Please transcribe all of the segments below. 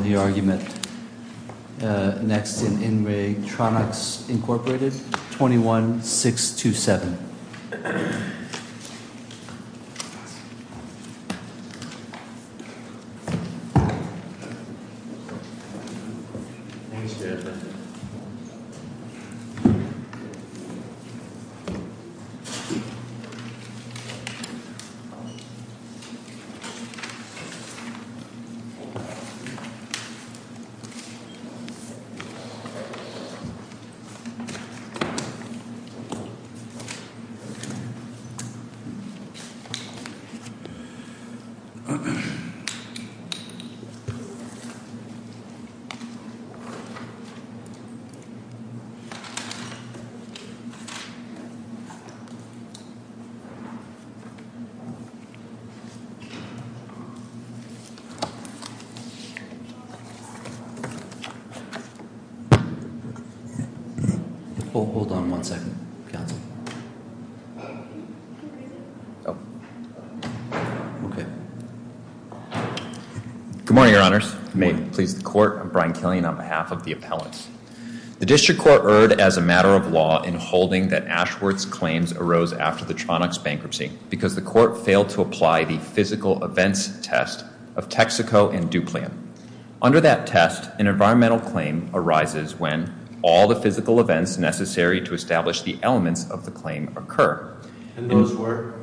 21-627. Tronox Incorporated. Hold on one second. Good morning, Your Honors. May it please the Court, I'm Brian Killian on behalf of the appellants. The District Court erred as a matter of law in holding that Ashworth's claims arose after the Tronox bankruptcy because the Court failed to apply the physical events test of Texaco and Duplan. Under that test, an environmental claim arises when all the physical events necessary to establish the elements of the claim occur. And those were?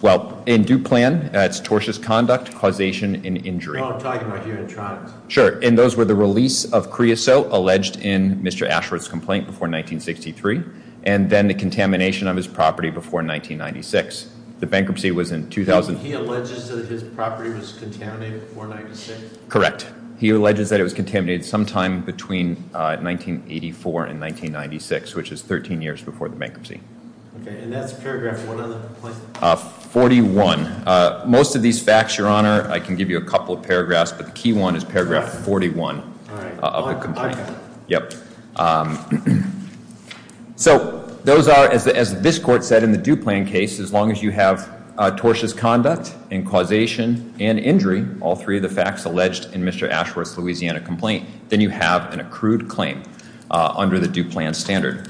Well, in Duplan, that's tortious conduct, causation, and injury. Well, I'm talking about here in Tronox. Sure, and those were the release of creosote alleged in Mr. Ashworth's complaint before 1963, and then the contamination of his property before 1996. The bankruptcy was in 2000. He alleges that his property was contaminated before 1996? Correct. He alleges that it was contaminated sometime between 1984 and 1996, which is 13 years before the bankruptcy. Okay, and that's paragraph one of the complaint? 41. Most of these facts, Your Honor, I can give you a couple of paragraphs, but the key one is paragraph 41 of the complaint. Yep. So those are, as this Court said in the Duplan case, as long as you have tortious conduct and causation and injury, all three of the facts alleged in Mr. Ashworth's Louisiana complaint, then you have an accrued claim under the Duplan standard.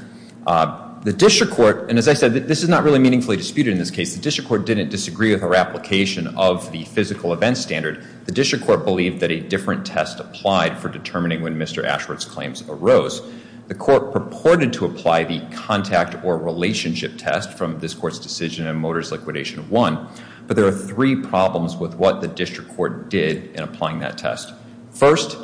The district court, and as I said, this is not really meaningfully disputed in this case. The district court didn't disagree with our application of the physical events standard. The district court believed that a different test applied for determining when Mr. Ashworth's claims arose. The court purported to apply the contact or relationship test from this court's decision in Motors Liquidation I, but there are three problems with what the district court did in applying that test. First,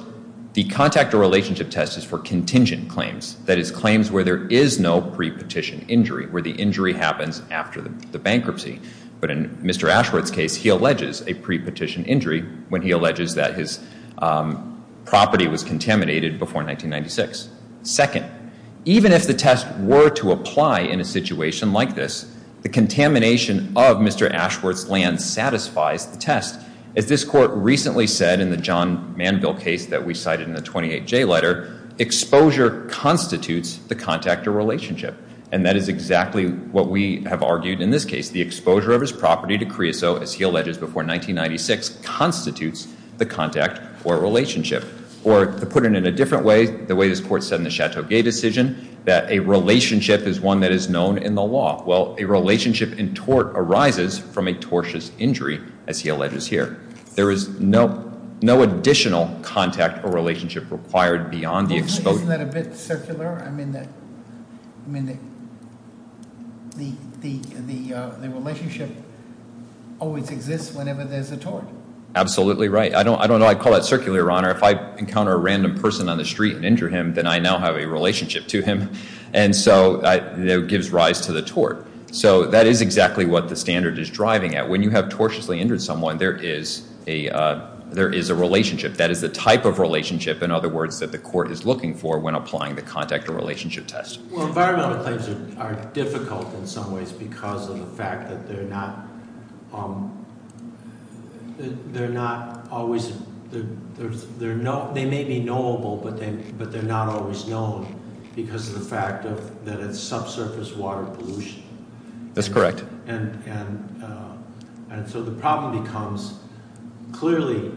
the contact or relationship test is for contingent claims, that is, claims where there is no pre-petition injury, where the injury happens after the bankruptcy. But in Mr. Ashworth's case, he alleges a pre-petition injury when he alleges that his property was contaminated before 1996. Second, even if the test were to apply in a situation like this, the contamination of Mr. Ashworth's land satisfies the test. As this court recently said in the John Manville case that we cited in the 28J letter, exposure constitutes the contact or relationship, and that is exactly what we have argued in this case. The exposure of his property to creosote, as he alleges, before 1996 constitutes the contact or relationship. Or to put it in a different way, the way this court said in the Chateau Gay decision, that a relationship is one that is known in the law. Well, a relationship in tort arises from a tortious injury, as he alleges here. There is no additional contact or relationship required beyond the exposure. Isn't that a bit circular? I mean, the relationship always exists whenever there's a tort. Absolutely right. I don't know. I call that circular, Your Honor. If I encounter a random person on the street and injure him, then I now have a relationship to him. And so it gives rise to the tort. So that is exactly what the standard is driving at. When you have tortiously injured someone, there is a relationship. That is the type of relationship, in other words, that the court is looking for when applying the contact or relationship test. Well, environmental claims are difficult in some ways because of the fact that they're not always they may be knowable, but they're not always known because of the fact that it's subsurface water pollution. That's correct. And so the problem becomes clearly,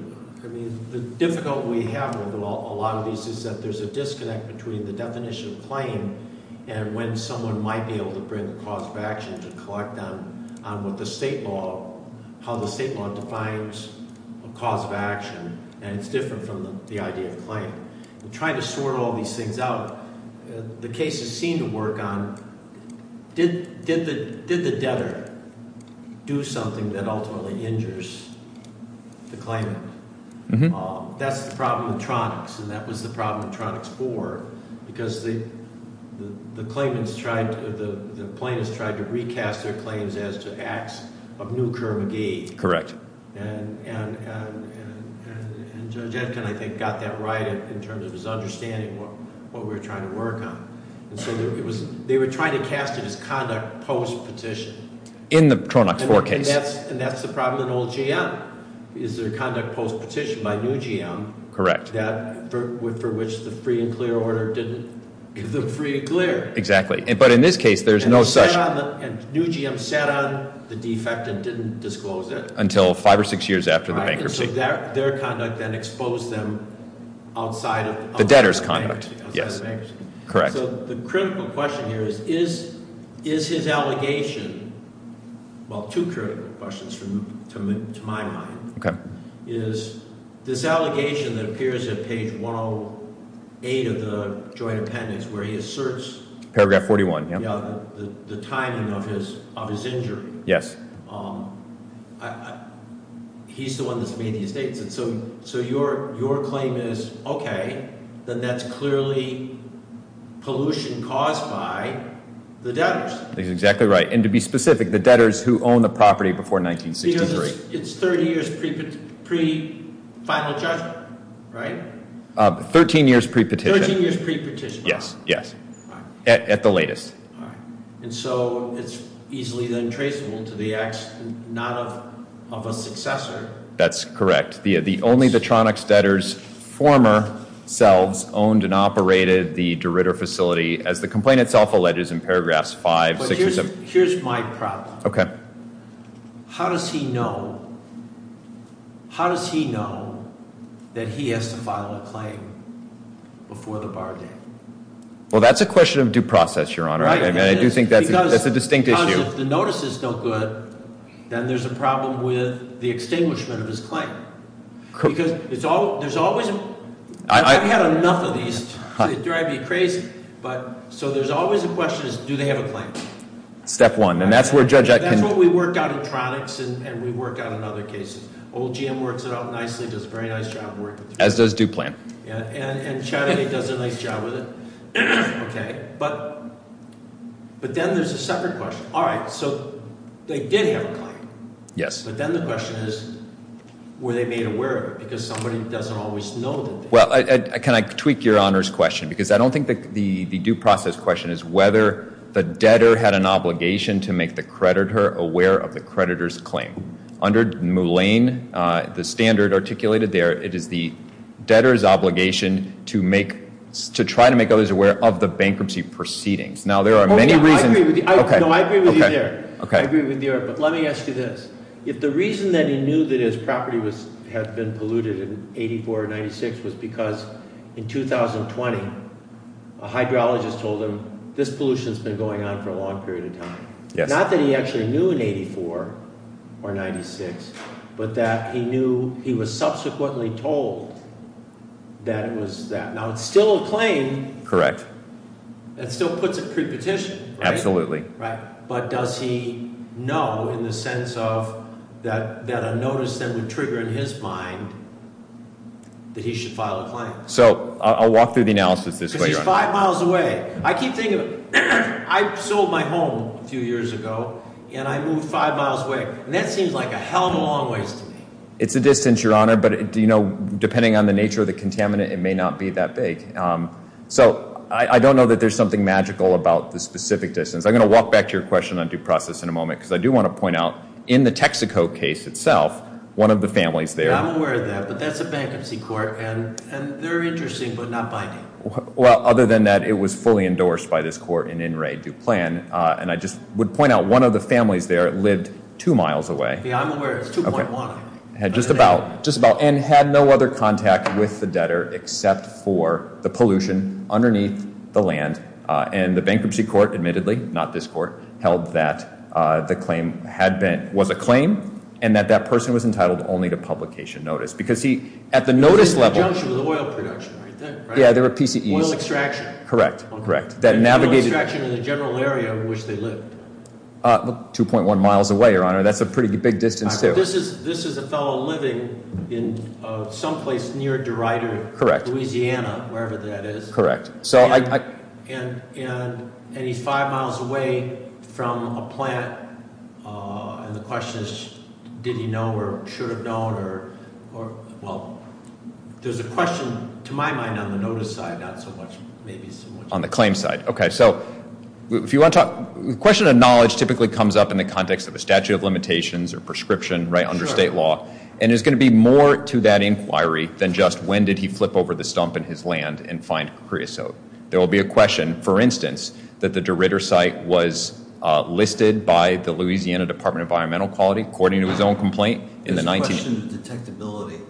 I mean, the difficulty we have with a lot of these is that there's a disconnect between the definition of claim and when someone might be able to bring a cause of action to collect on what the state law, how the state law defines a cause of action, and it's different from the idea of claim. In trying to sort all these things out, the cases seem to work on, did the debtor do something that ultimately injures the claimant? That's the problem with Tronics, and that was the problem with Tronics 4 because the claimants tried to, the plaintiffs tried to recast their claims as to acts of new curve of gain. Correct. And Judge Etkin, I think, got that right in terms of his understanding of what we were trying to work on. And so they were trying to cast it as conduct post-petition. In the Tronics 4 case. And that's the problem in old GM, is their conduct post-petition by new GM. Correct. For which the free and clear order didn't give them free and clear. Exactly. But in this case, there's no such. And new GM sat on the defect and didn't disclose it. Until five or six years after the bankruptcy. And so their conduct then exposed them outside of. The debtor's conduct, yes. Correct. So the critical question here is, is his allegation, well two critical questions to my mind. Okay. Is this allegation that appears at page 108 of the joint appendix where he asserts. Paragraph 41, yeah. The timing of his injury. Yes. He's the one that's made these statements. So your claim is, okay, then that's clearly pollution caused by the debtors. He's exactly right. And to be specific, the debtors who own the property before 1963. Because it's 30 years pre-final judgment, right? 13 years pre-petition. 13 years pre-petition. Yes. Yes. At the latest. All right. And so it's easily then traceable to the act not of a successor. That's correct. Only the Tronics debtors, former selves, owned and operated the DeRitter facility. As the complaint itself alleges in paragraphs 5, 6, or 7. Here's my problem. Okay. How does he know? How does he know that he has to file a claim before the bar date? Well, that's a question of due process, Your Honor. I do think that's a distinct issue. Because if the notice is still good, then there's a problem with the extinguishment of his claim. Because there's always – I've had enough of these. They drive me crazy. So there's always a question of do they have a claim? Step one. And that's where Judge Atkin – That's what we work out in Tronics and we work out in other cases. Old GM works it out nicely, does a very nice job working through it. As does DuPlan. And Chattagay does a nice job with it. Okay. But then there's a separate question. All right. So they did have a claim. Yes. But then the question is were they made aware of it? Because somebody doesn't always know the debtor. Well, can I tweak Your Honor's question? Because I don't think the due process question is whether the debtor had an obligation to make the creditor aware of the creditor's claim. Under Mullane, the standard articulated there, it is the debtor's obligation to try to make others aware of the bankruptcy proceedings. Now, there are many reasons – I agree with you there. I agree with you there. But let me ask you this. If the reason that he knew that his property had been polluted in 84 or 96 was because in 2020 a hydrologist told him this pollution has been going on for a long period of time. Yes. Not that he actually knew in 84 or 96, but that he knew he was subsequently told that it was that. Now, it's still a claim. Correct. That still puts it pre-petition, right? Absolutely. Right. But does he know in the sense of that a notice then would trigger in his mind that he should file a claim? So I'll walk through the analysis this way, Your Honor. Because he's five miles away. I keep thinking of it. I sold my home a few years ago, and I moved five miles away, and that seems like a hell of a long ways to me. It's a distance, Your Honor, but depending on the nature of the contaminant, it may not be that big. So I don't know that there's something magical about the specific distance. I'm going to walk back to your question on due process in a moment because I do want to point out in the Texaco case itself, one of the families there – I'm aware of that, but that's a bankruptcy court, and they're interesting but not binding. Well, other than that, it was fully endorsed by this court in in re due plan, and I just would point out one of the families there lived two miles away. Yeah, I'm aware. It's 2.1. Just about, and had no other contact with the debtor except for the pollution underneath the land, and the bankruptcy court admittedly, not this court, held that the claim was a claim and that that person was entitled only to publication notice because he, at the notice level – He was in conjunction with oil production right then, right? Yeah, they were PCEs. Oil extraction. Correct, correct. That navigated – Oil extraction in the general area in which they lived. 2.1 miles away, Your Honor. That's a pretty big distance, too. This is a fellow living in someplace near DeRider, Louisiana, wherever that is. Correct. And he's five miles away from a plant, and the question is did he know or should have known or – Well, there's a question, to my mind, on the notice side, not so much maybe so much – On the claim side. Okay, so if you want to talk – The question of knowledge typically comes up in the context of a statute of limitations or prescription under state law, and there's going to be more to that inquiry than just when did he flip over the stump in his land and find creosote. There will be a question, for instance, that the DeRider site was listed by the Louisiana Department of Environmental Quality, according to his own complaint in the 19 – The question of detectability.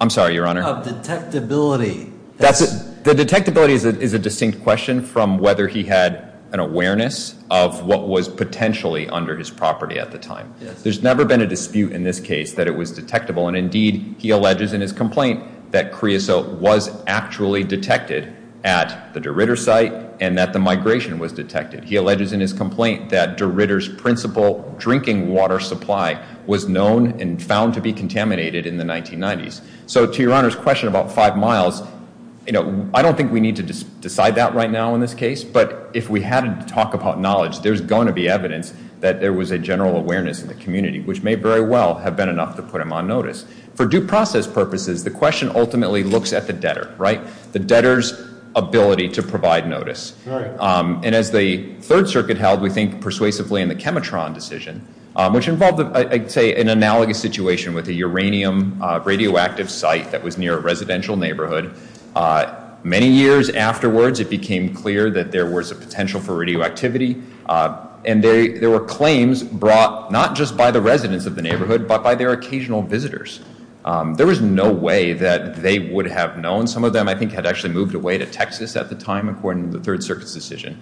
I'm sorry, Your Honor. Of detectability. The detectability is a distinct question from whether he had an awareness of what was potentially under his property at the time. There's never been a dispute in this case that it was detectable, and indeed he alleges in his complaint that creosote was actually detected at the DeRider site and that the migration was detected. He alleges in his complaint that DeRider's principal drinking water supply was known and found to be contaminated in the 1990s. So to Your Honor's question about five miles, you know, I don't think we need to decide that right now in this case, but if we had to talk about knowledge, there's going to be evidence that there was a general awareness in the community, which may very well have been enough to put him on notice. For due process purposes, the question ultimately looks at the debtor, right? The debtor's ability to provide notice. And as the Third Circuit held, we think persuasively in the Chemitron decision, which involved, I'd say, an analogous situation with a uranium radioactive site that was near a residential neighborhood. Many years afterwards, it became clear that there was a potential for radioactivity, and there were claims brought not just by the residents of the neighborhood, but by their occasional visitors. There was no way that they would have known. Some of them, I think, had actually moved away to Texas at the time, according to the Third Circuit's decision.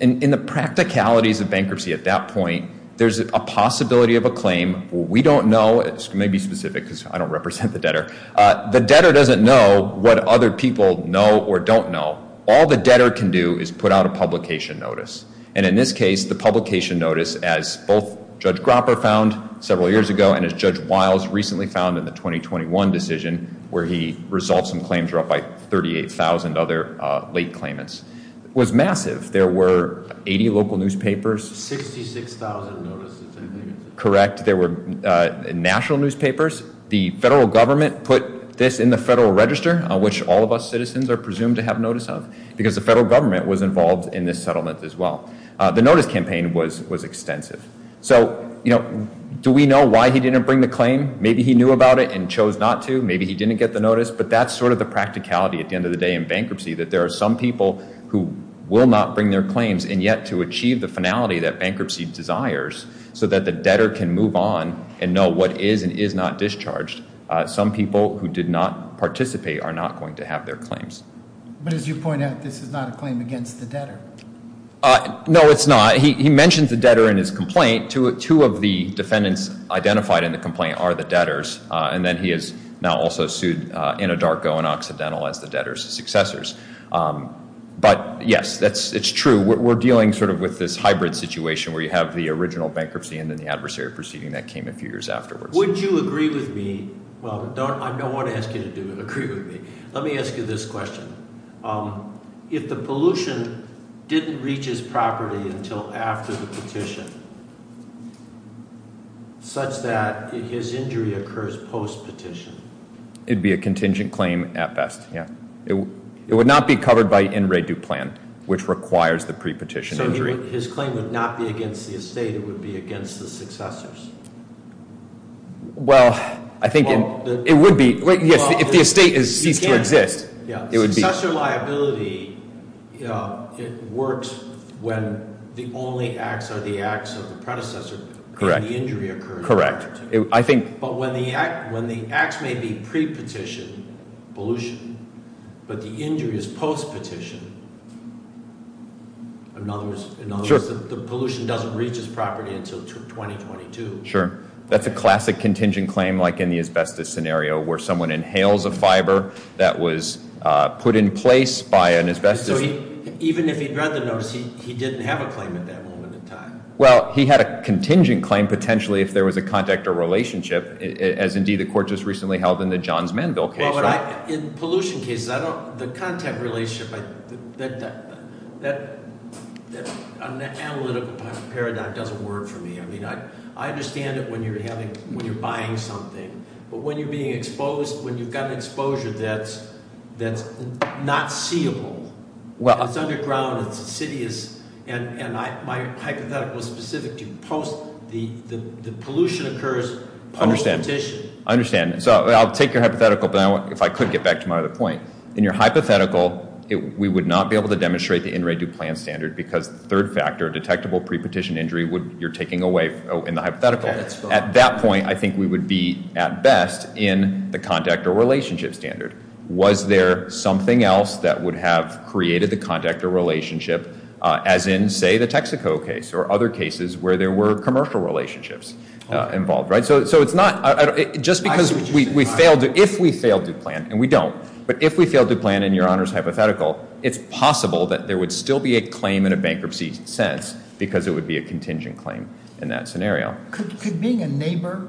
And in the practicalities of bankruptcy at that point, there's a possibility of a claim. We don't know. It may be specific because I don't represent the debtor. The debtor doesn't know what other people know or don't know. All the debtor can do is put out a publication notice. And in this case, the publication notice, as both Judge Gropper found several years ago and as Judge Wiles recently found in the 2021 decision, where he resolved some claims brought by 38,000 other late claimants, was massive. There were 80 local newspapers. 66,000 notices, I think. Correct. There were national newspapers. The federal government put this in the Federal Register, which all of us citizens are presumed to have notice of, because the federal government was involved in this settlement as well. The notice campaign was extensive. So, you know, do we know why he didn't bring the claim? Maybe he knew about it and chose not to. Maybe he didn't get the notice. But that's sort of the practicality at the end of the day in bankruptcy, that there are some people who will not bring their claims and yet to achieve the finality that bankruptcy desires so that the debtor can move on and know what is and is not discharged, some people who did not participate are not going to have their claims. But as you point out, this is not a claim against the debtor. No, it's not. He mentions the debtor in his complaint. Two of the defendants identified in the complaint are the debtors. And then he is now also sued in a darko and occidental as the debtor's successors. But, yes, it's true. We're dealing sort of with this hybrid situation where you have the original bankruptcy and then the adversary proceeding that came a few years afterwards. Would you agree with me? Well, I don't want to ask you to agree with me. Let me ask you this question. If the pollution didn't reach his property until after the petition, such that his injury occurs post-petition? It would be a contingent claim at best, yes. It would not be covered by in re du plan, which requires the pre-petition injury. So his claim would not be against the estate. It would be against the successors? Well, I think it would be. If the estate ceased to exist, it would be. Successor liability, it works when the only acts are the acts of the predecessor. Correct. And the injury occurs. Correct. But when the acts may be pre-petition, pollution, but the injury is post-petition, in other words, the pollution doesn't reach his property until 2022. Sure. That's a classic contingent claim, like in the asbestos scenario, where someone inhales a fiber that was put in place by an asbestos. So even if he'd rather notice, he didn't have a claim at that moment in time? Well, he had a contingent claim potentially if there was a contact or relationship, as indeed the court just recently held in the Johns Manville case. Well, in pollution cases, the contact relationship, that analytical paradigm doesn't work for me. I mean, I understand it when you're buying something. But when you're being exposed, when you've got an exposure that's not seeable, it's underground, it's insidious, and my hypothetical is specific to post, the pollution occurs post-petition. I understand. So I'll take your hypothetical, but if I could get back to my other point. In your hypothetical, we would not be able to demonstrate the in re du plan standard because the third factor, detectable pre-petition injury, you're taking away in the hypothetical. At that point, I think we would be at best in the contact or relationship standard. Was there something else that would have created the contact or relationship, as in, say, the Texaco case or other cases where there were commercial relationships involved? So it's not just because we failed to plan, and we don't, but if we failed to plan in Your Honor's hypothetical, it's possible that there would still be a claim in a bankruptcy sense, because it would be a contingent claim in that scenario. Could being a neighbor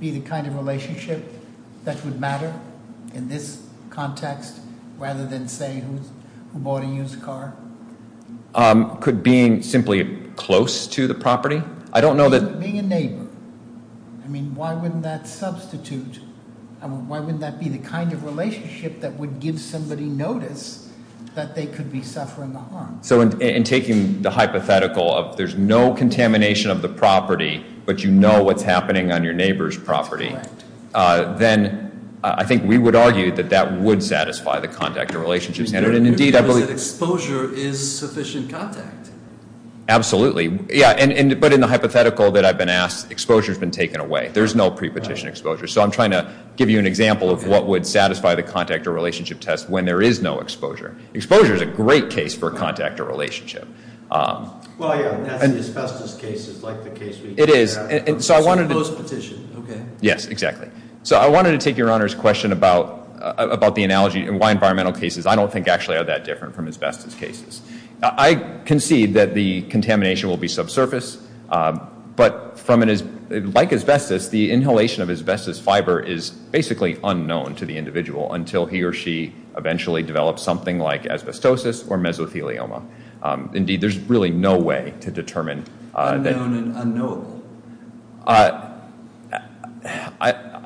be the kind of relationship that would matter in this context, rather than, say, who bought a used car? Could being simply close to the property? I don't know that- Being a neighbor. I mean, why wouldn't that substitute? I mean, why wouldn't that be the kind of relationship that would give somebody notice that they could be suffering the harm? So in taking the hypothetical of there's no contamination of the property, but you know what's happening on your neighbor's property, then I think we would argue that that would satisfy the contact or relationship standard. And indeed, I believe- Because exposure is sufficient contact. Absolutely. Yeah, but in the hypothetical that I've been asked, exposure's been taken away. There's no pre-petition exposure. So I'm trying to give you an example of what would satisfy the contact or relationship test when there is no exposure. Exposure's a great case for contact or relationship. Well, yeah, that's the asbestos cases, like the case we- It is. So I wanted to- Close petition, okay. Yes, exactly. So I wanted to take Your Honor's question about the analogy and why environmental cases I don't think actually are that different from asbestos cases. I concede that the contamination will be subsurface, but like asbestos, the inhalation of asbestos fiber is basically unknown to the individual until he or she eventually develops something like asbestosis or mesothelioma. Indeed, there's really no way to determine- Unknown and unknowable.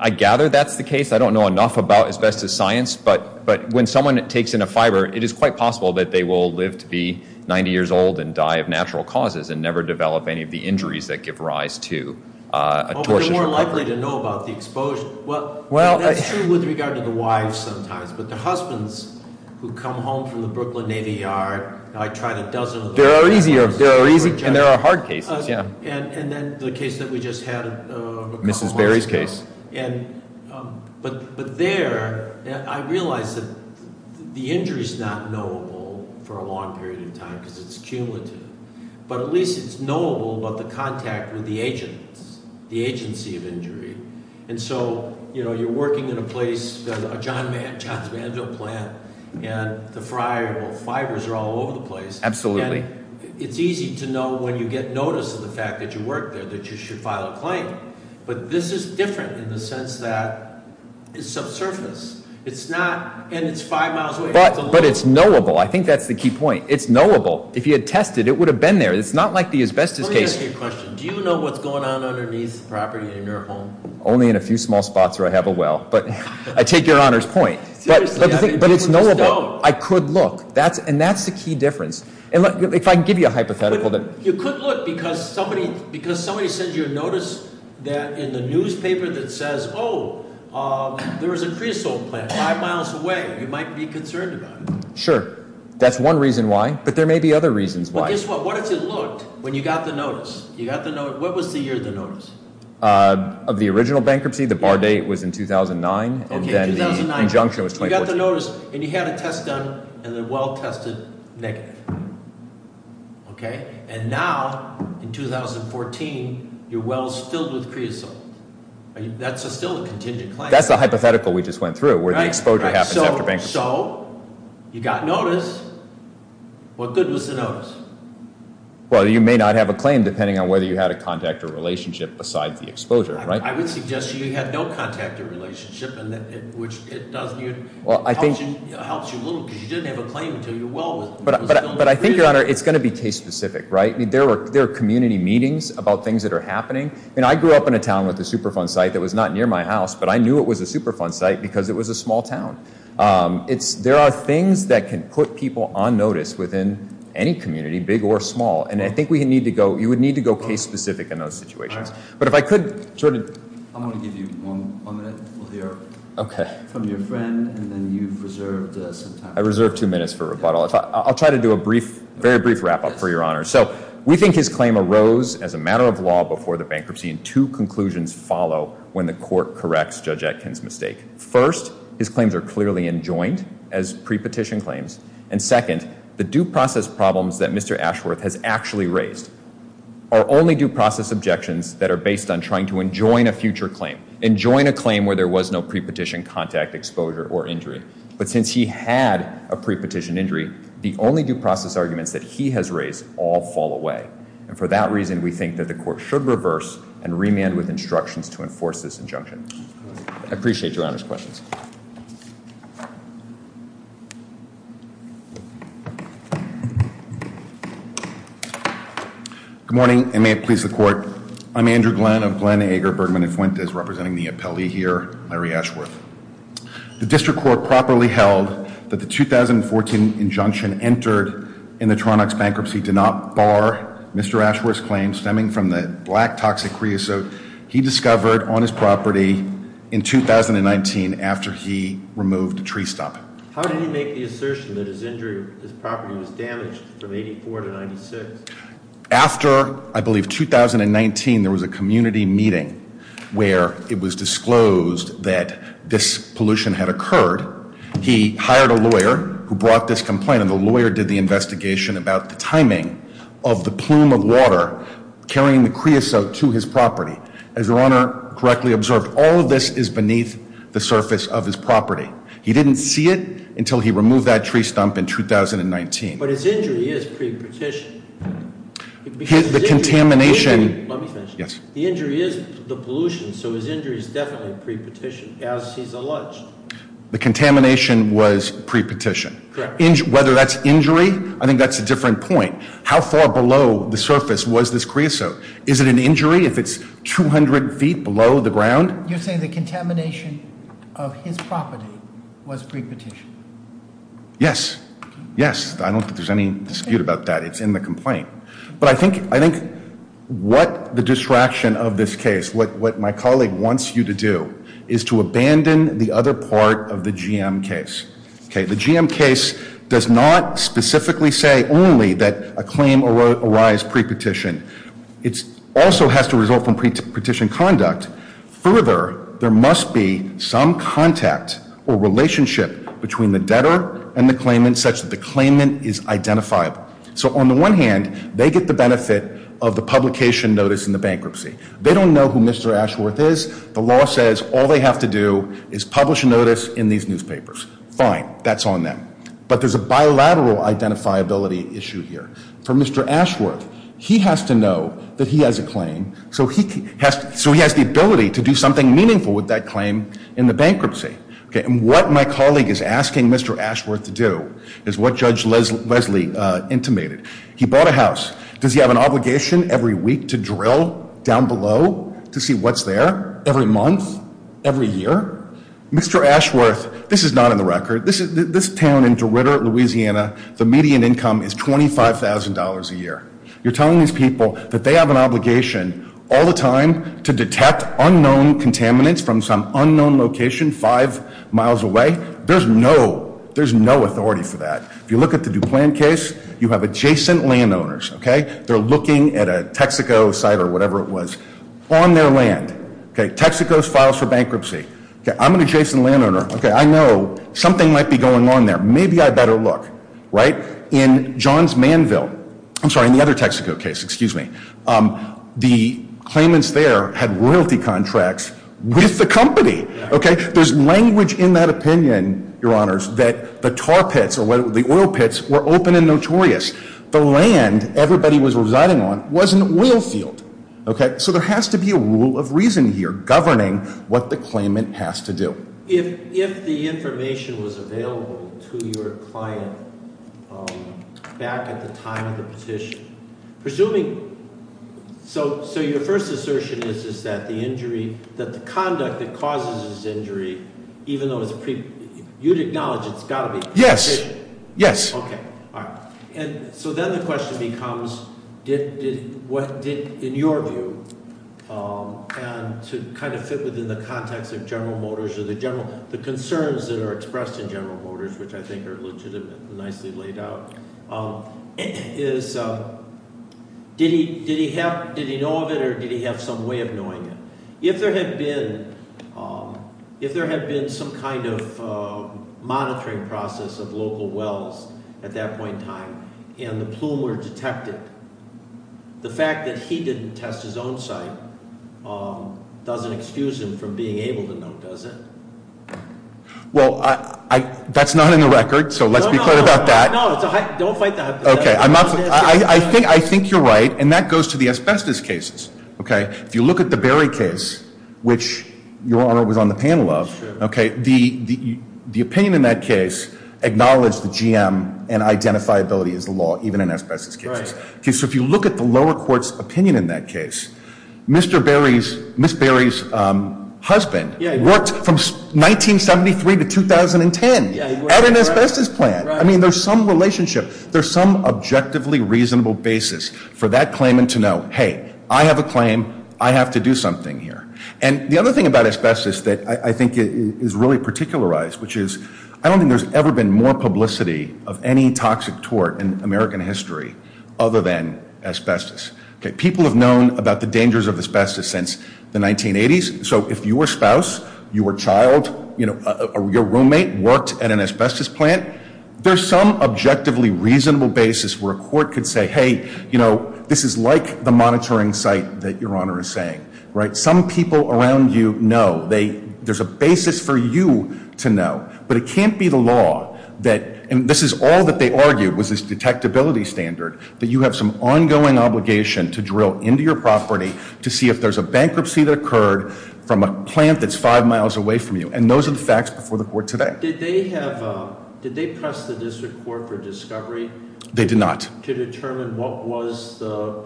I gather that's the case. I don't know enough about asbestos science, but when someone takes in a fiber, it is quite possible that they will live to be 90 years old and die of natural causes and never develop any of the injuries that give rise to a torsion injury. Oh, but they're more likely to know about the exposure. Well, that's true with regard to the wives sometimes, but the husbands who come home from the Brooklyn Navy Yard, I tried a dozen of those- There are easy and there are hard cases, yeah. And then the case that we just had a couple months ago. Mrs. Berry's case. But there I realized that the injury is not knowable for a long period of time because it's cumulative, but at least it's knowable about the contact with the agents, the agency of injury. And so you're working in a place, John's Mansion plant, and the fibers are all over the place. Absolutely. It's easy to know when you get notice of the fact that you work there that you should file a claim, but this is different in the sense that it's subsurface and it's five miles away. But it's knowable. I think that's the key point. It's knowable. If you had tested, it would have been there. It's not like the asbestos case. Let me ask you a question. Do you know what's going on underneath the property in your home? Only in a few small spots where I have a well, but I take your honor's point. But it's knowable. I could look, and that's the key difference. And if I can give you a hypothetical that- You could look because somebody says you're noticed that in the newspaper that says, oh, there was a creosote plant five miles away. You might be concerned about it. Sure. That's one reason why, but there may be other reasons why. But guess what? What if you looked when you got the notice? What was the year of the notice? Of the original bankruptcy, the bar date was in 2009, and then the injunction was 2014. You got the notice, and you had a test done, and the well tested negative. And now, in 2014, your well is filled with creosote. That's still a contingent claim. That's the hypothetical we just went through where the exposure happens after bankruptcy. So you got notice. What good was the notice? Well, you may not have a claim depending on whether you had a contact or relationship besides the exposure. I would suggest you had no contact or relationship, which helps you a little because you didn't have a claim until your well was filled with creosote. But I think, Your Honor, it's going to be case-specific, right? There are community meetings about things that are happening. I grew up in a town with a Superfund site that was not near my house, but I knew it was a Superfund site because it was a small town. There are things that can put people on notice within any community, big or small, and I think you would need to go case-specific in those situations. But if I could, Jordan. I'm going to give you one minute from your friend, and then you've reserved some time. I reserved two minutes for rebuttal. I'll try to do a brief, very brief wrap-up for Your Honor. So we think his claim arose as a matter of law before the bankruptcy, and two conclusions follow when the court corrects Judge Atkin's mistake. First, his claims are clearly enjoined as pre-petition claims. And second, the due process problems that Mr. Ashworth has actually raised are only due process objections that are based on trying to enjoin a future claim, enjoin a claim where there was no pre-petition contact, exposure, or injury. But since he had a pre-petition injury, the only due process arguments that he has raised all fall away. And for that reason, we think that the court should reverse and remand with instructions to enforce this injunction. I appreciate Your Honor's questions. Good morning, and may it please the Court. I'm Andrew Glenn of Glenn, Ager, Bergman & Fuentes, representing the appellee here, Larry Ashworth. The District Court properly held that the 2014 injunction entered in the Torontox bankruptcy did not bar Mr. Ashworth's claim stemming from the black toxic creosote he discovered on his property in 2019 after he removed a tree stump. How did he make the assertion that his property was damaged from 84 to 96? After, I believe, 2019, there was a community meeting where it was disclosed that this pollution had occurred. He hired a lawyer who brought this complaint, and the lawyer did the investigation about the timing of the plume of water carrying the creosote to his property. As Your Honor correctly observed, all of this is beneath the surface of his property. He didn't see it until he removed that tree stump in 2019. But his injury is pre-petition. The contamination- Let me finish. The injury is the pollution, so his injury is definitely pre-petition, as he's alleged. The contamination was pre-petition. Correct. Whether that's injury, I think that's a different point. How far below the surface was this creosote? Is it an injury if it's 200 feet below the ground? You're saying the contamination of his property was pre-petition? Yes. Yes. I don't think there's any dispute about that. It's in the complaint. But I think what the distraction of this case, what my colleague wants you to do, is to abandon the other part of the GM case. The GM case does not specifically say only that a claim arise pre-petition. It also has to result from pre-petition conduct. Further, there must be some contact or relationship between the debtor and the claimant such that the claimant is identifiable. So, on the one hand, they get the benefit of the publication notice in the bankruptcy. They don't know who Mr. Ashworth is. The law says all they have to do is publish a notice in these newspapers. Fine. That's on them. But there's a bilateral identifiability issue here. For Mr. Ashworth, he has to know that he has a claim, so he has the ability to do something meaningful with that claim in the bankruptcy. And what my colleague is asking Mr. Ashworth to do is what Judge Leslie intimated. He bought a house. Does he have an obligation every week to drill down below to see what's there every month, every year? Mr. Ashworth, this is not in the record. This town in Derrida, Louisiana, the median income is $25,000 a year. You're telling these people that they have an obligation all the time to detect unknown contaminants from some unknown location five miles away? There's no authority for that. If you look at the DuPlan case, you have adjacent landowners. They're looking at a Texaco site or whatever it was on their land. Texaco files for bankruptcy. I'm an adjacent landowner. I know something might be going on there. Maybe I better look. Right? In Johns Manville, I'm sorry, in the other Texaco case, excuse me, the claimants there had royalty contracts with the company. Okay? There's language in that opinion, Your Honors, that the tar pits or the oil pits were open and notorious. The land everybody was residing on was an oil field. Okay? So there has to be a rule of reason here governing what the claimant has to do. If the information was available to your client back at the time of the petition, presuming, so your first assertion is that the injury, that the conduct that causes this injury, even though it's a pre, you'd acknowledge it's got to be- Yes. Yes. Okay. So then the question becomes, in your view, and to kind of fit within the context of General Motors or the concerns that are expressed in General Motors, which I think are legitimately nicely laid out, is did he know of it or did he have some way of knowing it? If there had been some kind of monitoring process of local wells at that point in time and the plume were detected, the fact that he didn't test his own site doesn't excuse him from being able to know, does it? Well, that's not in the record, so let's be clear about that. No, no, no. Don't fight that. Okay. I think you're right, and that goes to the asbestos cases. Okay? If you look at the Berry case, which Your Honor was on the panel of, the opinion in that case acknowledged the GM and identifiability as a law, even in asbestos cases. Right. So if you look at the lower court's opinion in that case, Ms. Berry's husband worked from 1973 to 2010 at an asbestos plant. I mean, there's some relationship. for that claimant to know, hey, I have a claim, I have to do something here. And the other thing about asbestos that I think is really particularized, which is, I don't think there's ever been more publicity of any toxic tort in American history other than asbestos. People have known about the dangers of asbestos since the 1980s. So if your spouse, your child, your roommate worked at an asbestos plant, there's some objectively reasonable basis where a court could say, hey, you know, this is like the monitoring site that Your Honor is saying. Some people around you know. There's a basis for you to know. But it can't be the law that, and this is all that they argued was this detectability standard, that you have some ongoing obligation to drill into your property to see if there's a bankruptcy that occurred from a plant that's five miles away from you. And those are the facts before the court today. Did they press the district court for discovery? They did not. To determine what was the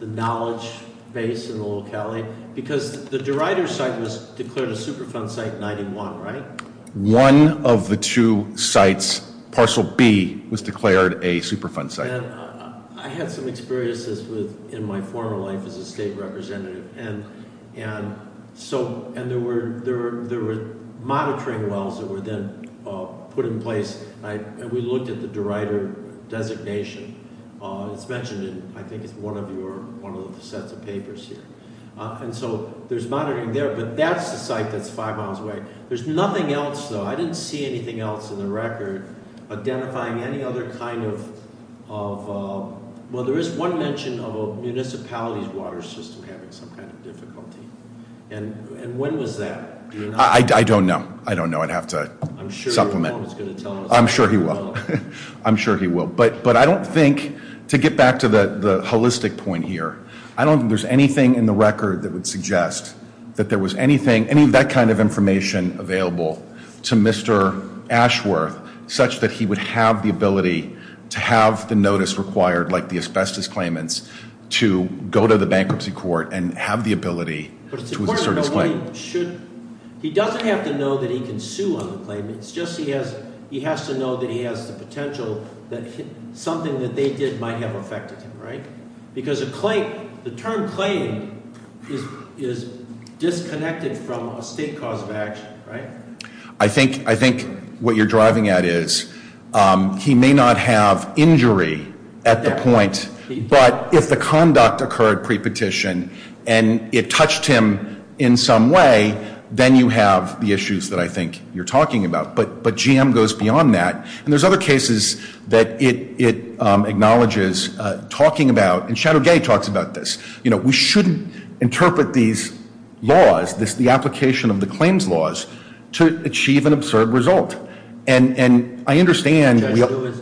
knowledge base in the locality? Because the DeRider site was declared a Superfund Site 91, right? One of the two sites, parcel B, was declared a Superfund Site. I had some experiences in my former life as a state representative. And there were monitoring wells that were then put in place, and we looked at the DeRider designation. It's mentioned in, I think it's one of the sets of papers here. And so there's monitoring there, but that's the site that's five miles away. There's nothing else, though. I didn't see anything else in the record identifying any other kind of, well, there is one mention of a municipality's water system having some kind of difficulty. And when was that? I don't know. I don't know. I'd have to supplement. I'm sure your mom is going to tell us. I'm sure he will. I'm sure he will. But I don't think, to get back to the holistic point here, I don't think there's anything in the record that would suggest that there was anything, any of that kind of information available to Mr. Ashworth, such that he would have the ability to have the notice required, like the asbestos claimants, to go to the bankruptcy court and have the ability to assert his claim. He doesn't have to know that he can sue on the claim. It's just he has to know that he has the potential that something that they did might have affected him, right? Because the term claim is disconnected from a state cause of action, right? I think what you're driving at is he may not have injury at the point, but if the conduct occurred pre-petition and it touched him in some way, then you have the issues that I think you're talking about. But GM goes beyond that. And there's other cases that it acknowledges talking about, and Shadow Gay talks about this, you know, we shouldn't interpret these laws, the application of the claims laws, to achieve an absurd result. And I understand.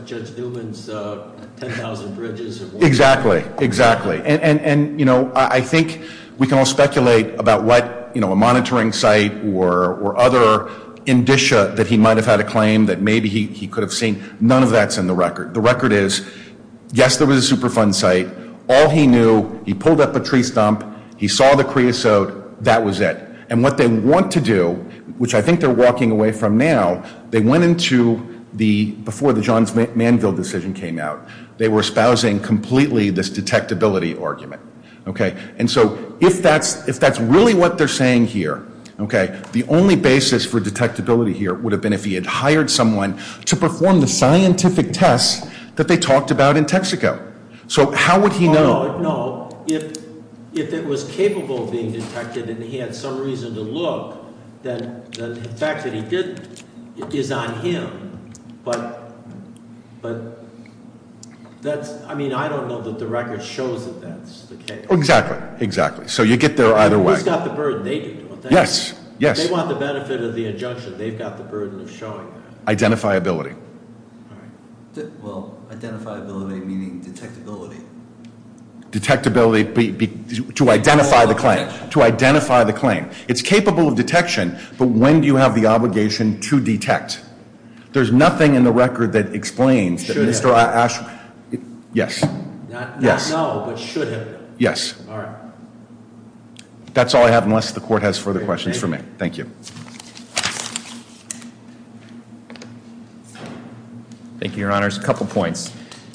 Judge Newman's 10,000 bridges. Exactly, exactly. And, you know, I think we can all speculate about what, you know, a monitoring site or other indicia that he might have had a claim that maybe he could have seen. None of that's in the record. The record is, yes, there was a Superfund site. All he knew, he pulled up a tree stump, he saw the creosote, that was it. And what they want to do, which I think they're walking away from now, they went into before the Johns Manville decision came out. They were espousing completely this detectability argument, okay? And so if that's really what they're saying here, okay, the only basis for detectability here would have been if he had hired someone to perform the scientific tests that they talked about in Texaco. So how would he know? No, if it was capable of being detected and he had some reason to look, then the fact that he didn't is on him. But that's, I mean, I don't know that the record shows that that's the case. Exactly, exactly. So you get there either way. He's got the burden. They do. Yes, yes. They want the benefit of the injunction. They've got the burden of showing that. Identifiability. All right. Well, identifiability meaning detectability. Detectability, to identify the claim. To identify the claim. It's capable of detection, but when do you have the obligation to detect? There's nothing in the record that explains that Mr. Ash, yes. Not now, but should have. Yes. All right. That's all I have unless the court has further questions for me. Thank you. Thank you, Your Honors. A couple points.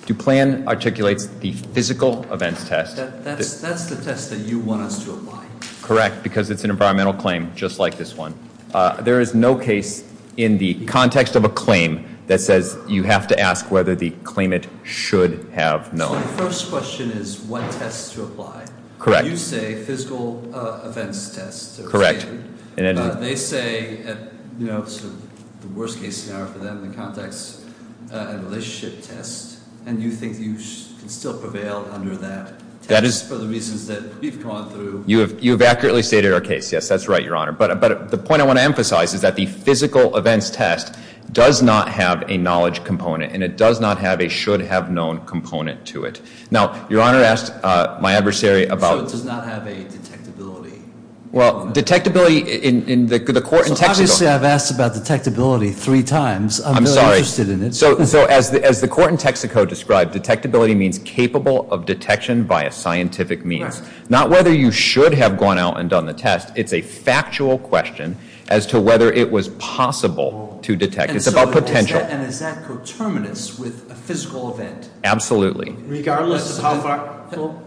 DuPlan articulates the physical events test. That's the test that you want us to apply. Correct, because it's an environmental claim just like this one. There is no case in the context of a claim that says you have to ask whether the claimant should have knowledge. So the first question is what test to apply. Correct. You say physical events test. Correct. They say, you know, the worst case scenario for them, the context and relationship test, and you think you can still prevail under that test for the reasons that we've gone through. You have accurately stated our case. Yes, that's right, Your Honor. But the point I want to emphasize is that the physical events test does not have a knowledge component, and it does not have a should-have-known component to it. Now, Your Honor asked my adversary about – So it does not have a detectability. Well, detectability in the court in Texaco – So obviously I've asked about detectability three times. I'm really interested in it. I'm sorry. So as the court in Texaco described, detectability means capable of detection by a scientific means, not whether you should have gone out and done the test. It's a factual question as to whether it was possible to detect. It's about potential. And is that coterminous with a physical event? Absolutely. Regardless of how far – Go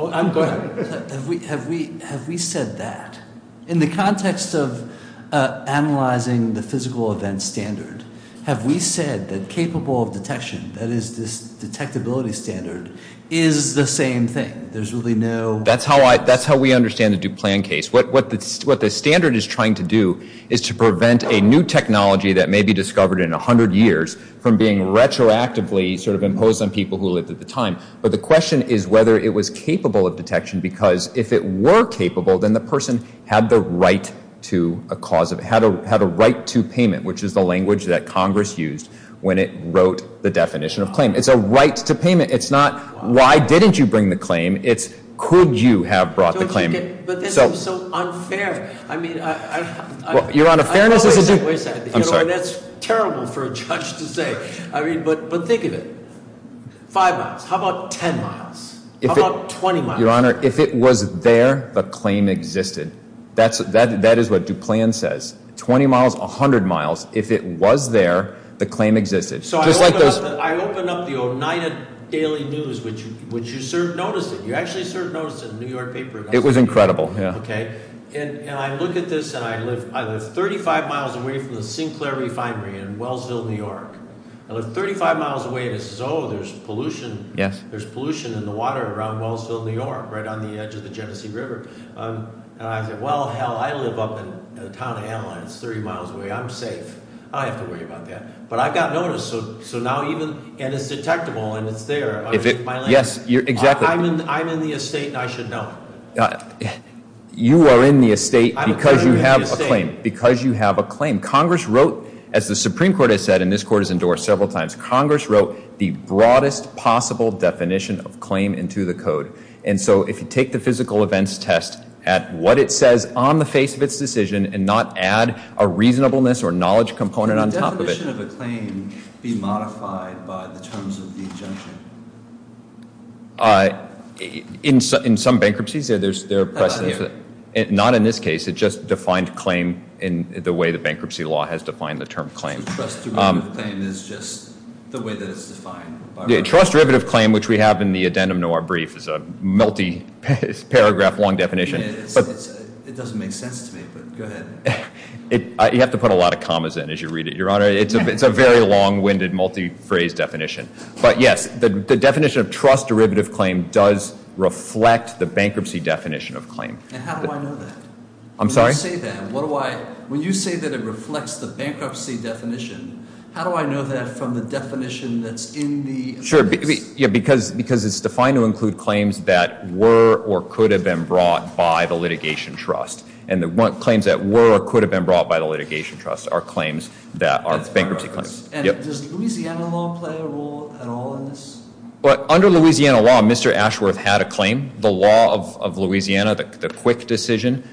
ahead. Have we said that? In the context of analyzing the physical event standard, have we said that capable of detection, that is this detectability standard, is the same thing? There's really no – That's how we understand the Duplan case. What the standard is trying to do is to prevent a new technology that may be discovered in 100 years from being retroactively sort of imposed on people who lived at the time. But the question is whether it was capable of detection because if it were capable, then the person had the right to a cause of – had a right to payment, which is the language that Congress used when it wrote the definition of claim. It's a right to payment. It's not why didn't you bring the claim. It's could you have brought the claim. Don't you get – But this is so unfair. I mean, I – Your Honor, fairness is a – Wait a second. I'm sorry. That's terrible for a judge to say. I mean, but think of it. Five miles. How about 10 miles? How about 20 miles? Your Honor, if it was there, the claim existed. That is what Duplan says. 20 miles, 100 miles, if it was there, the claim existed. So I open up the Oneida Daily News, which you noticed it. You actually sort of noticed it in the New York paper. It was incredible, yeah. Okay. And I look at this, and I live 35 miles away from the Sinclair Refinery in Wellsville, New York. I live 35 miles away, and it says, oh, there's pollution. Yes. There's pollution in the water around Wellsville, New York, right on the edge of the Genesee River. And I said, well, hell, I live up in the town of Anaheim. It's 30 miles away. I'm safe. I don't have to worry about that. But I got noticed, so now even – And it's detectable, and it's there. Yes, exactly. I'm in the estate, and I should know. You are in the estate because you have a claim. Because you have a claim. Congress wrote, as the Supreme Court has said, and this court has endorsed several times, Congress wrote the broadest possible definition of claim into the code. And so if you take the physical events test at what it says on the face of its decision and not add a reasonableness or knowledge component on top of it. Can the definition of a claim be modified by the terms of the injunction? In some bankruptcies, there are precedents. How about here? Not in this case. It just defined claim in the way the bankruptcy law has defined the term claim. So trust derivative claim is just the way that it's defined? Trust derivative claim, which we have in the addendum to our brief, is a multi-paragraph, long definition. It doesn't make sense to me, but go ahead. You have to put a lot of commas in as you read it, Your Honor. It's a very long-winded, multi-phrase definition. But, yes, the definition of trust derivative claim does reflect the bankruptcy definition of claim. And how do I know that? I'm sorry? When you say that, what do I, when you say that it reflects the bankruptcy definition, how do I know that from the definition that's in the? Sure, because it's defined to include claims that were or could have been brought by the litigation trust. And the claims that were or could have been brought by the litigation trust are claims that are bankruptcy claims. And does Louisiana law play a role at all in this? Well, under Louisiana law, Mr. Ashworth had a claim. The law of Louisiana, the quick decision,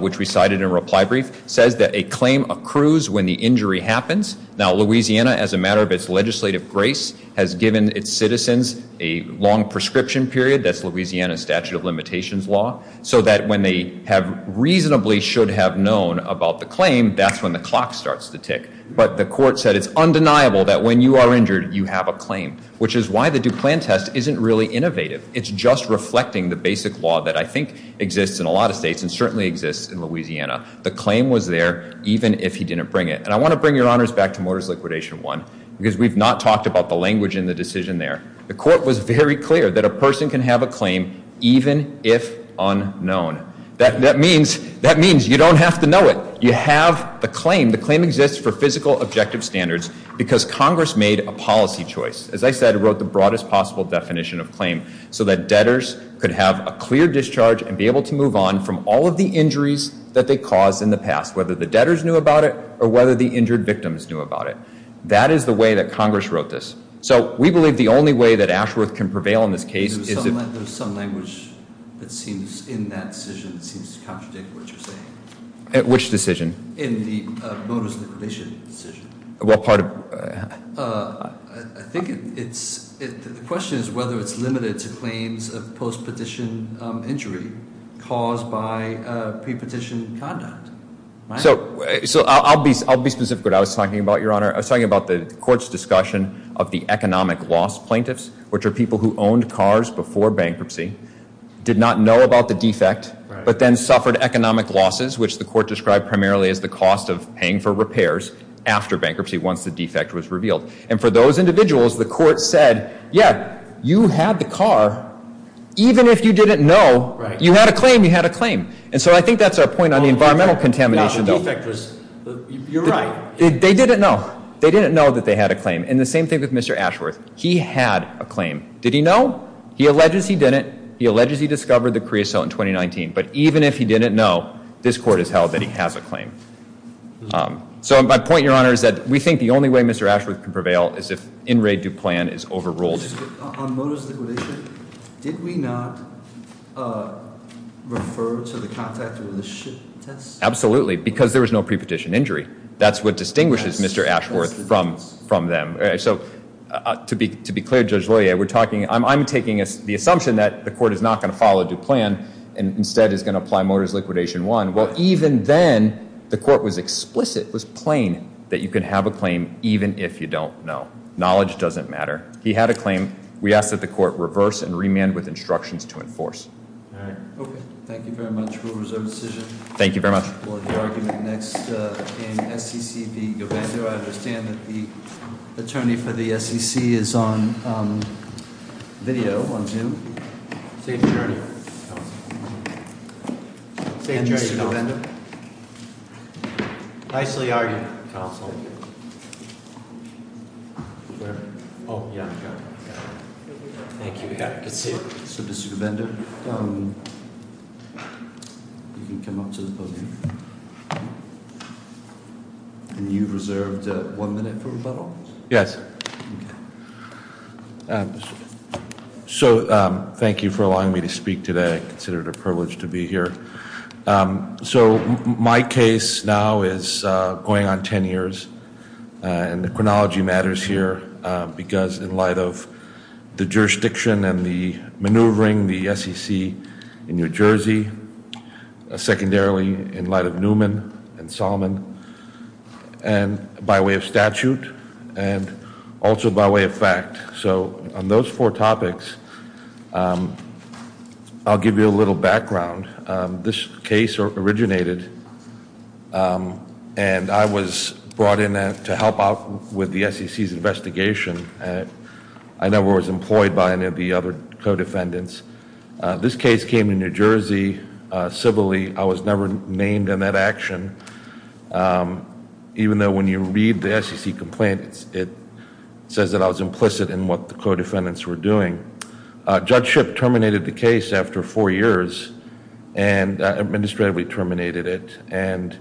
which we cited in reply brief, says that a claim accrues when the injury happens. Now, Louisiana, as a matter of its legislative grace, has given its citizens a long prescription period. That's Louisiana's statute of limitations law. So that when they have reasonably should have known about the claim, that's when the clock starts to tick. But the court said it's undeniable that when you are injured, you have a claim, which is why the DuPlan test isn't really innovative. It's just reflecting the basic law that I think exists in a lot of states and certainly exists in Louisiana. The claim was there even if he didn't bring it. And I want to bring your honors back to Motors Liquidation 1 because we've not talked about the language in the decision there. The court was very clear that a person can have a claim even if unknown. That means you don't have to know it. You have the claim. The claim exists for physical objective standards because Congress made a policy choice. As I said, it wrote the broadest possible definition of claim so that debtors could have a clear discharge and be able to move on from all of the injuries that they caused in the past, whether the debtors knew about it or whether the injured victims knew about it. That is the way that Congress wrote this. So we believe the only way that Ashworth can prevail in this case is if— In the Motors Liquidation decision? Well, part of— I think it's—the question is whether it's limited to claims of post-petition injury caused by pre-petition conduct. So I'll be specific what I was talking about, Your Honor. I was talking about the court's discussion of the economic loss plaintiffs, which are people who owned cars before bankruptcy, did not know about the defect, but then suffered economic losses, which the court described primarily as the cost of paying for repairs after bankruptcy once the defect was revealed. And for those individuals, the court said, yeah, you had the car. Even if you didn't know, you had a claim. You had a claim. And so I think that's our point on the environmental contamination, though. The defect was—you're right. They didn't know. They didn't know that they had a claim. And the same thing with Mr. Ashworth. He had a claim. Did he know? He alleges he didn't. But even if he didn't know, this court has held that he has a claim. So my point, Your Honor, is that we think the only way Mr. Ashworth can prevail is if In re Duplan is overruled. On motorist liquidation, did we not refer to the contact with the ship test? Absolutely, because there was no pre-petition injury. That's what distinguishes Mr. Ashworth from them. So to be clear, Judge Loyer, we're talking—I'm taking the assumption that the court is not going to follow Duplan and instead is going to apply motorist liquidation one. Well, even then, the court was explicit, was plain, that you can have a claim even if you don't know. Knowledge doesn't matter. He had a claim. We ask that the court reverse and remand with instructions to enforce. All right. Okay. Thank you very much. Rule of reserve decision. Thank you very much. We'll have the argument next in SEC v. Govender. I understand that the attorney for the SEC is on video on Zoom. Safe journey, Counsel. Safe journey, Counsel. And Mr. Govender. Nicely argued, Counsel. Oh, yeah, got it. Thank you. Good to see you. So, Mr. Govender, you can come up to the podium. And you've reserved one minute for rebuttal? Yes. So thank you for allowing me to speak today. I consider it a privilege to be here. So my case now is going on 10 years. And the chronology matters here because in light of the jurisdiction and the maneuvering, the SEC in New Jersey, secondarily in light of Newman and Solomon, and by way of statute, and also by way of fact. So on those four topics, I'll give you a little background. This case originated and I was brought in to help out with the SEC's investigation. I never was employed by any of the other co-defendants. This case came in New Jersey civilly. I was never named in that action. Even though when you read the SEC complaint, it says that I was implicit in what the co-defendants were doing. Judge Shipp terminated the case after four years and administratively terminated it. And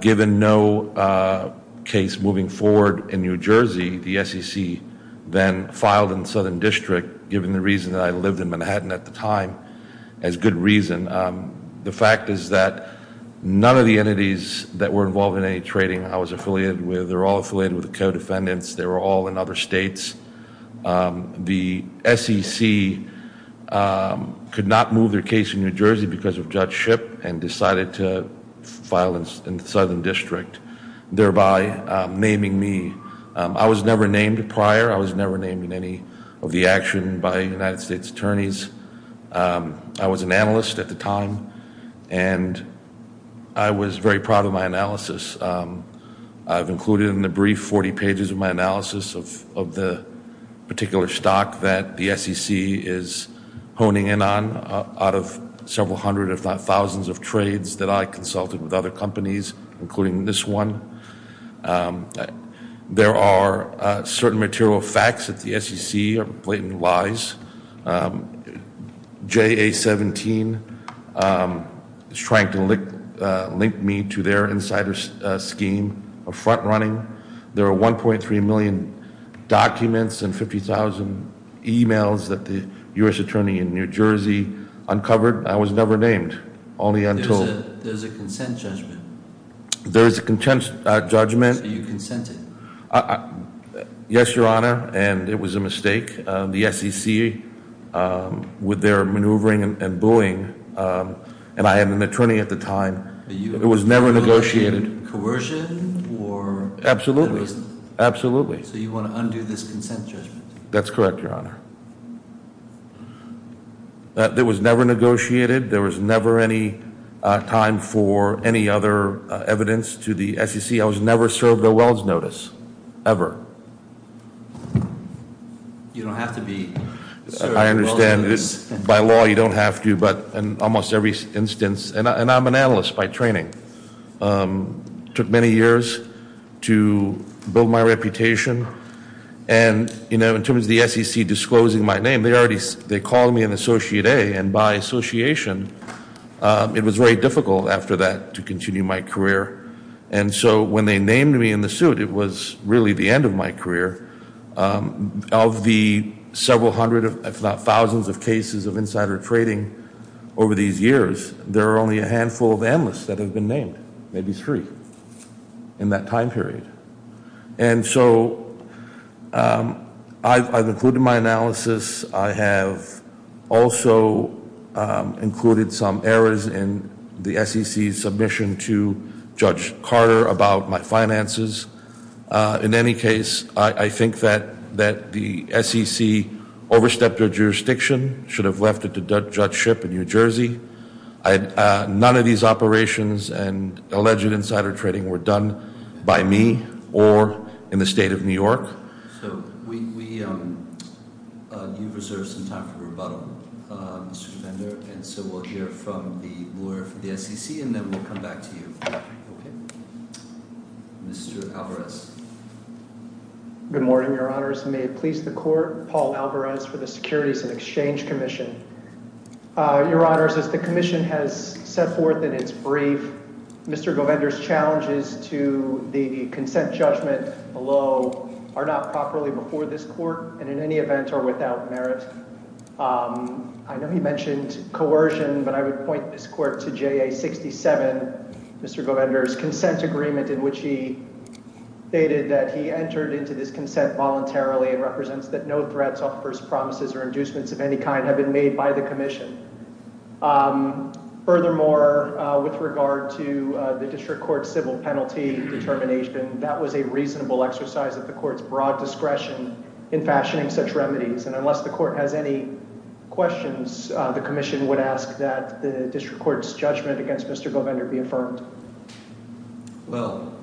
given no case moving forward in New Jersey, the SEC then filed in the Southern District, given the reason that I lived in Manhattan at the time, as good reason. And the fact is that none of the entities that were involved in any trading I was affiliated with, they were all affiliated with the co-defendants. They were all in other states. The SEC could not move their case in New Jersey because of Judge Shipp and decided to file in the Southern District, thereby naming me. I was never named prior. I was never named in any of the action by United States attorneys. I was an analyst at the time, and I was very proud of my analysis. I've included in the brief 40 pages of my analysis of the particular stock that the SEC is honing in on out of several hundred, if not thousands, of trades that I consulted with other companies, including this one. There are certain material facts that the SEC blatantly lies. JA-17 is trying to link me to their insider scheme of front-running. There are 1.3 million documents and 50,000 emails that the U.S. Attorney in New Jersey uncovered. I was never named, only until- There's a consent judgment. There's a consent judgment. So you consented. Yes, Your Honor, and it was a mistake. The SEC, with their maneuvering and booing, and I am an attorney at the time. It was never negotiated. Are you arguing coercion or- Absolutely. Absolutely. So you want to undo this consent judgment? That's correct, Your Honor. It was never negotiated. There was never any time for any other evidence to the SEC. I was never served a wells notice, ever. You don't have to be served a wells notice. I understand. By law, you don't have to, but in almost every instance. And I'm an analyst by training. It took many years to build my reputation. And, you know, in terms of the SEC disclosing my name, they called me an Associate A. And by association, it was very difficult after that to continue my career. And so when they named me in the suit, it was really the end of my career. Of the several hundred, if not thousands, of cases of insider trading over these years, there are only a handful of analysts that have been named, maybe three, in that time period. And so I've included my analysis. I have also included some errors in the SEC's submission to Judge Carter about my finances. In any case, I think that the SEC overstepped their jurisdiction, should have left it to Judge Shipp in New Jersey. None of these operations and alleged insider trading were done by me or in the state of New York. So you've reserved some time for rebuttal, Mr. Govender. And so we'll hear from the lawyer for the SEC, and then we'll come back to you. Mr. Alvarez. Good morning, Your Honors. May it please the Court. Paul Alvarez for the Securities and Exchange Commission. Your Honors, as the commission has set forth in its brief, Mr. Govender's challenges to the consent judgment below are not properly before this Court, and in any event are without merit. I know he mentioned coercion, but I would point this Court to JA 67, Mr. Govender's consent agreement, in which he stated that he entered into this consent voluntarily, and represents that no threats, offers, promises, or inducements of any kind have been made by the commission. Furthermore, with regard to the district court's civil penalty determination, that was a reasonable exercise of the court's broad discretion in fashioning such remedies. And unless the court has any questions, the commission would ask that the district court's judgment against Mr. Govender be affirmed. Well,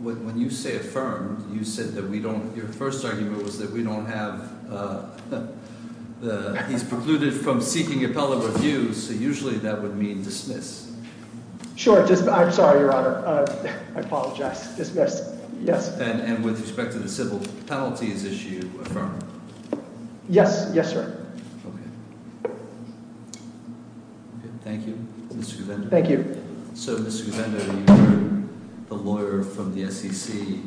when you say affirmed, you said that we don't— Usually that would mean dismissed. Sure. I'm sorry, Your Honor. I apologize. Dismissed. Yes. And with respect to the civil penalties issue, affirmed? Yes. Yes, sir. Okay. Thank you, Mr. Govender. Thank you. So, Mr. Govender, you heard the lawyer from the SEC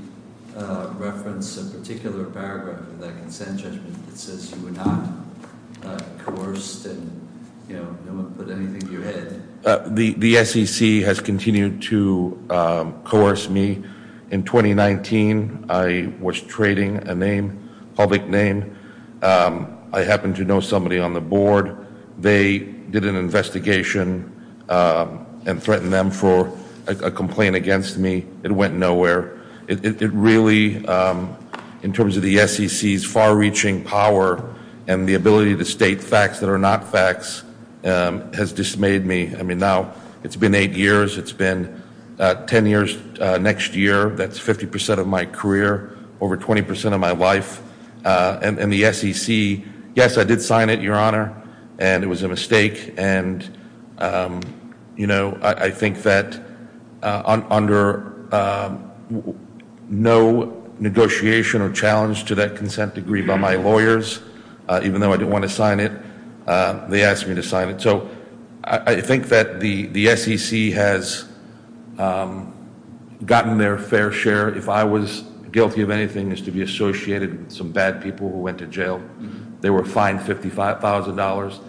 reference a particular paragraph in that consent judgment that says you were not coerced and, you know, no one put anything to your head. The SEC has continued to coerce me. In 2019, I was trading a name, public name. I happened to know somebody on the board. They did an investigation and threatened them for a complaint against me. It went nowhere. It really, in terms of the SEC's far-reaching power and the ability to state facts that are not facts, has dismayed me. I mean, now it's been eight years. It's been 10 years next year. That's 50 percent of my career, over 20 percent of my life. And the SEC—yes, I did sign it, Your Honor, and it was a mistake. And, you know, I think that under no negotiation or challenge to that consent degree by my lawyers, even though I didn't want to sign it, they asked me to sign it. So I think that the SEC has gotten their fair share. If I was guilty of anything, it's to be associated with some bad people who went to jail. They were fined $55,000.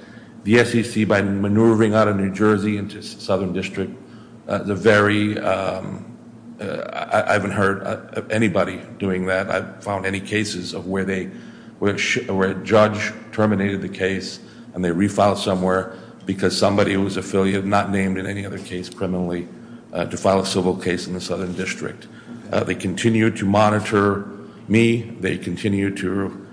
The SEC, by maneuvering out of New Jersey into the Southern District, is a very—I haven't heard of anybody doing that. I haven't found any cases of where a judge terminated the case and they refiled somewhere because somebody who was affiliated, not named in any other case criminally, to file a civil case in the Southern District. They continue to monitor me. They continue to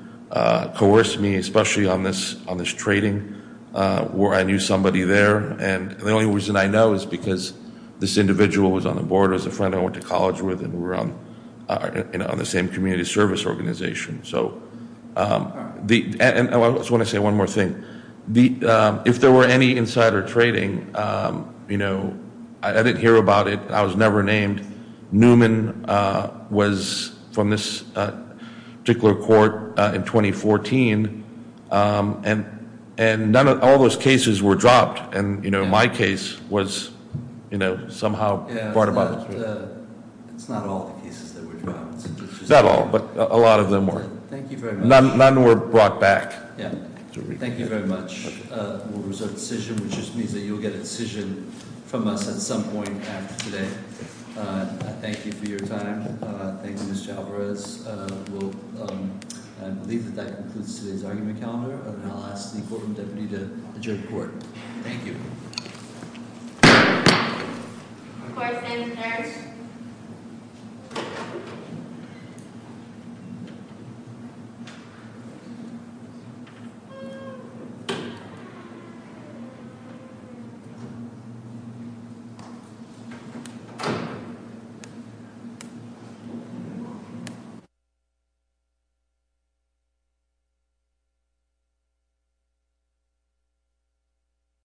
coerce me, especially on this trading where I knew somebody there. And the only reason I know is because this individual was on the board as a friend I went to college with and we were on the same community service organization. And I just want to say one more thing. If there were any insider trading, you know, I didn't hear about it. I was never named. Newman was from this particular court in 2014, and none of those cases were dropped. And, you know, my case was, you know, somehow brought about. It's not all the cases that were dropped. Not all, but a lot of them were. None were brought back. Thank you very much. We'll reserve a decision, which just means that you'll get a decision from us at some point after today. Thank you for your time. Thank you, Mr. Alvarez. I believe that that concludes today's argument calendar, and I'll ask the courtroom deputy to adjourn the court. Thank you. Court is adjourned.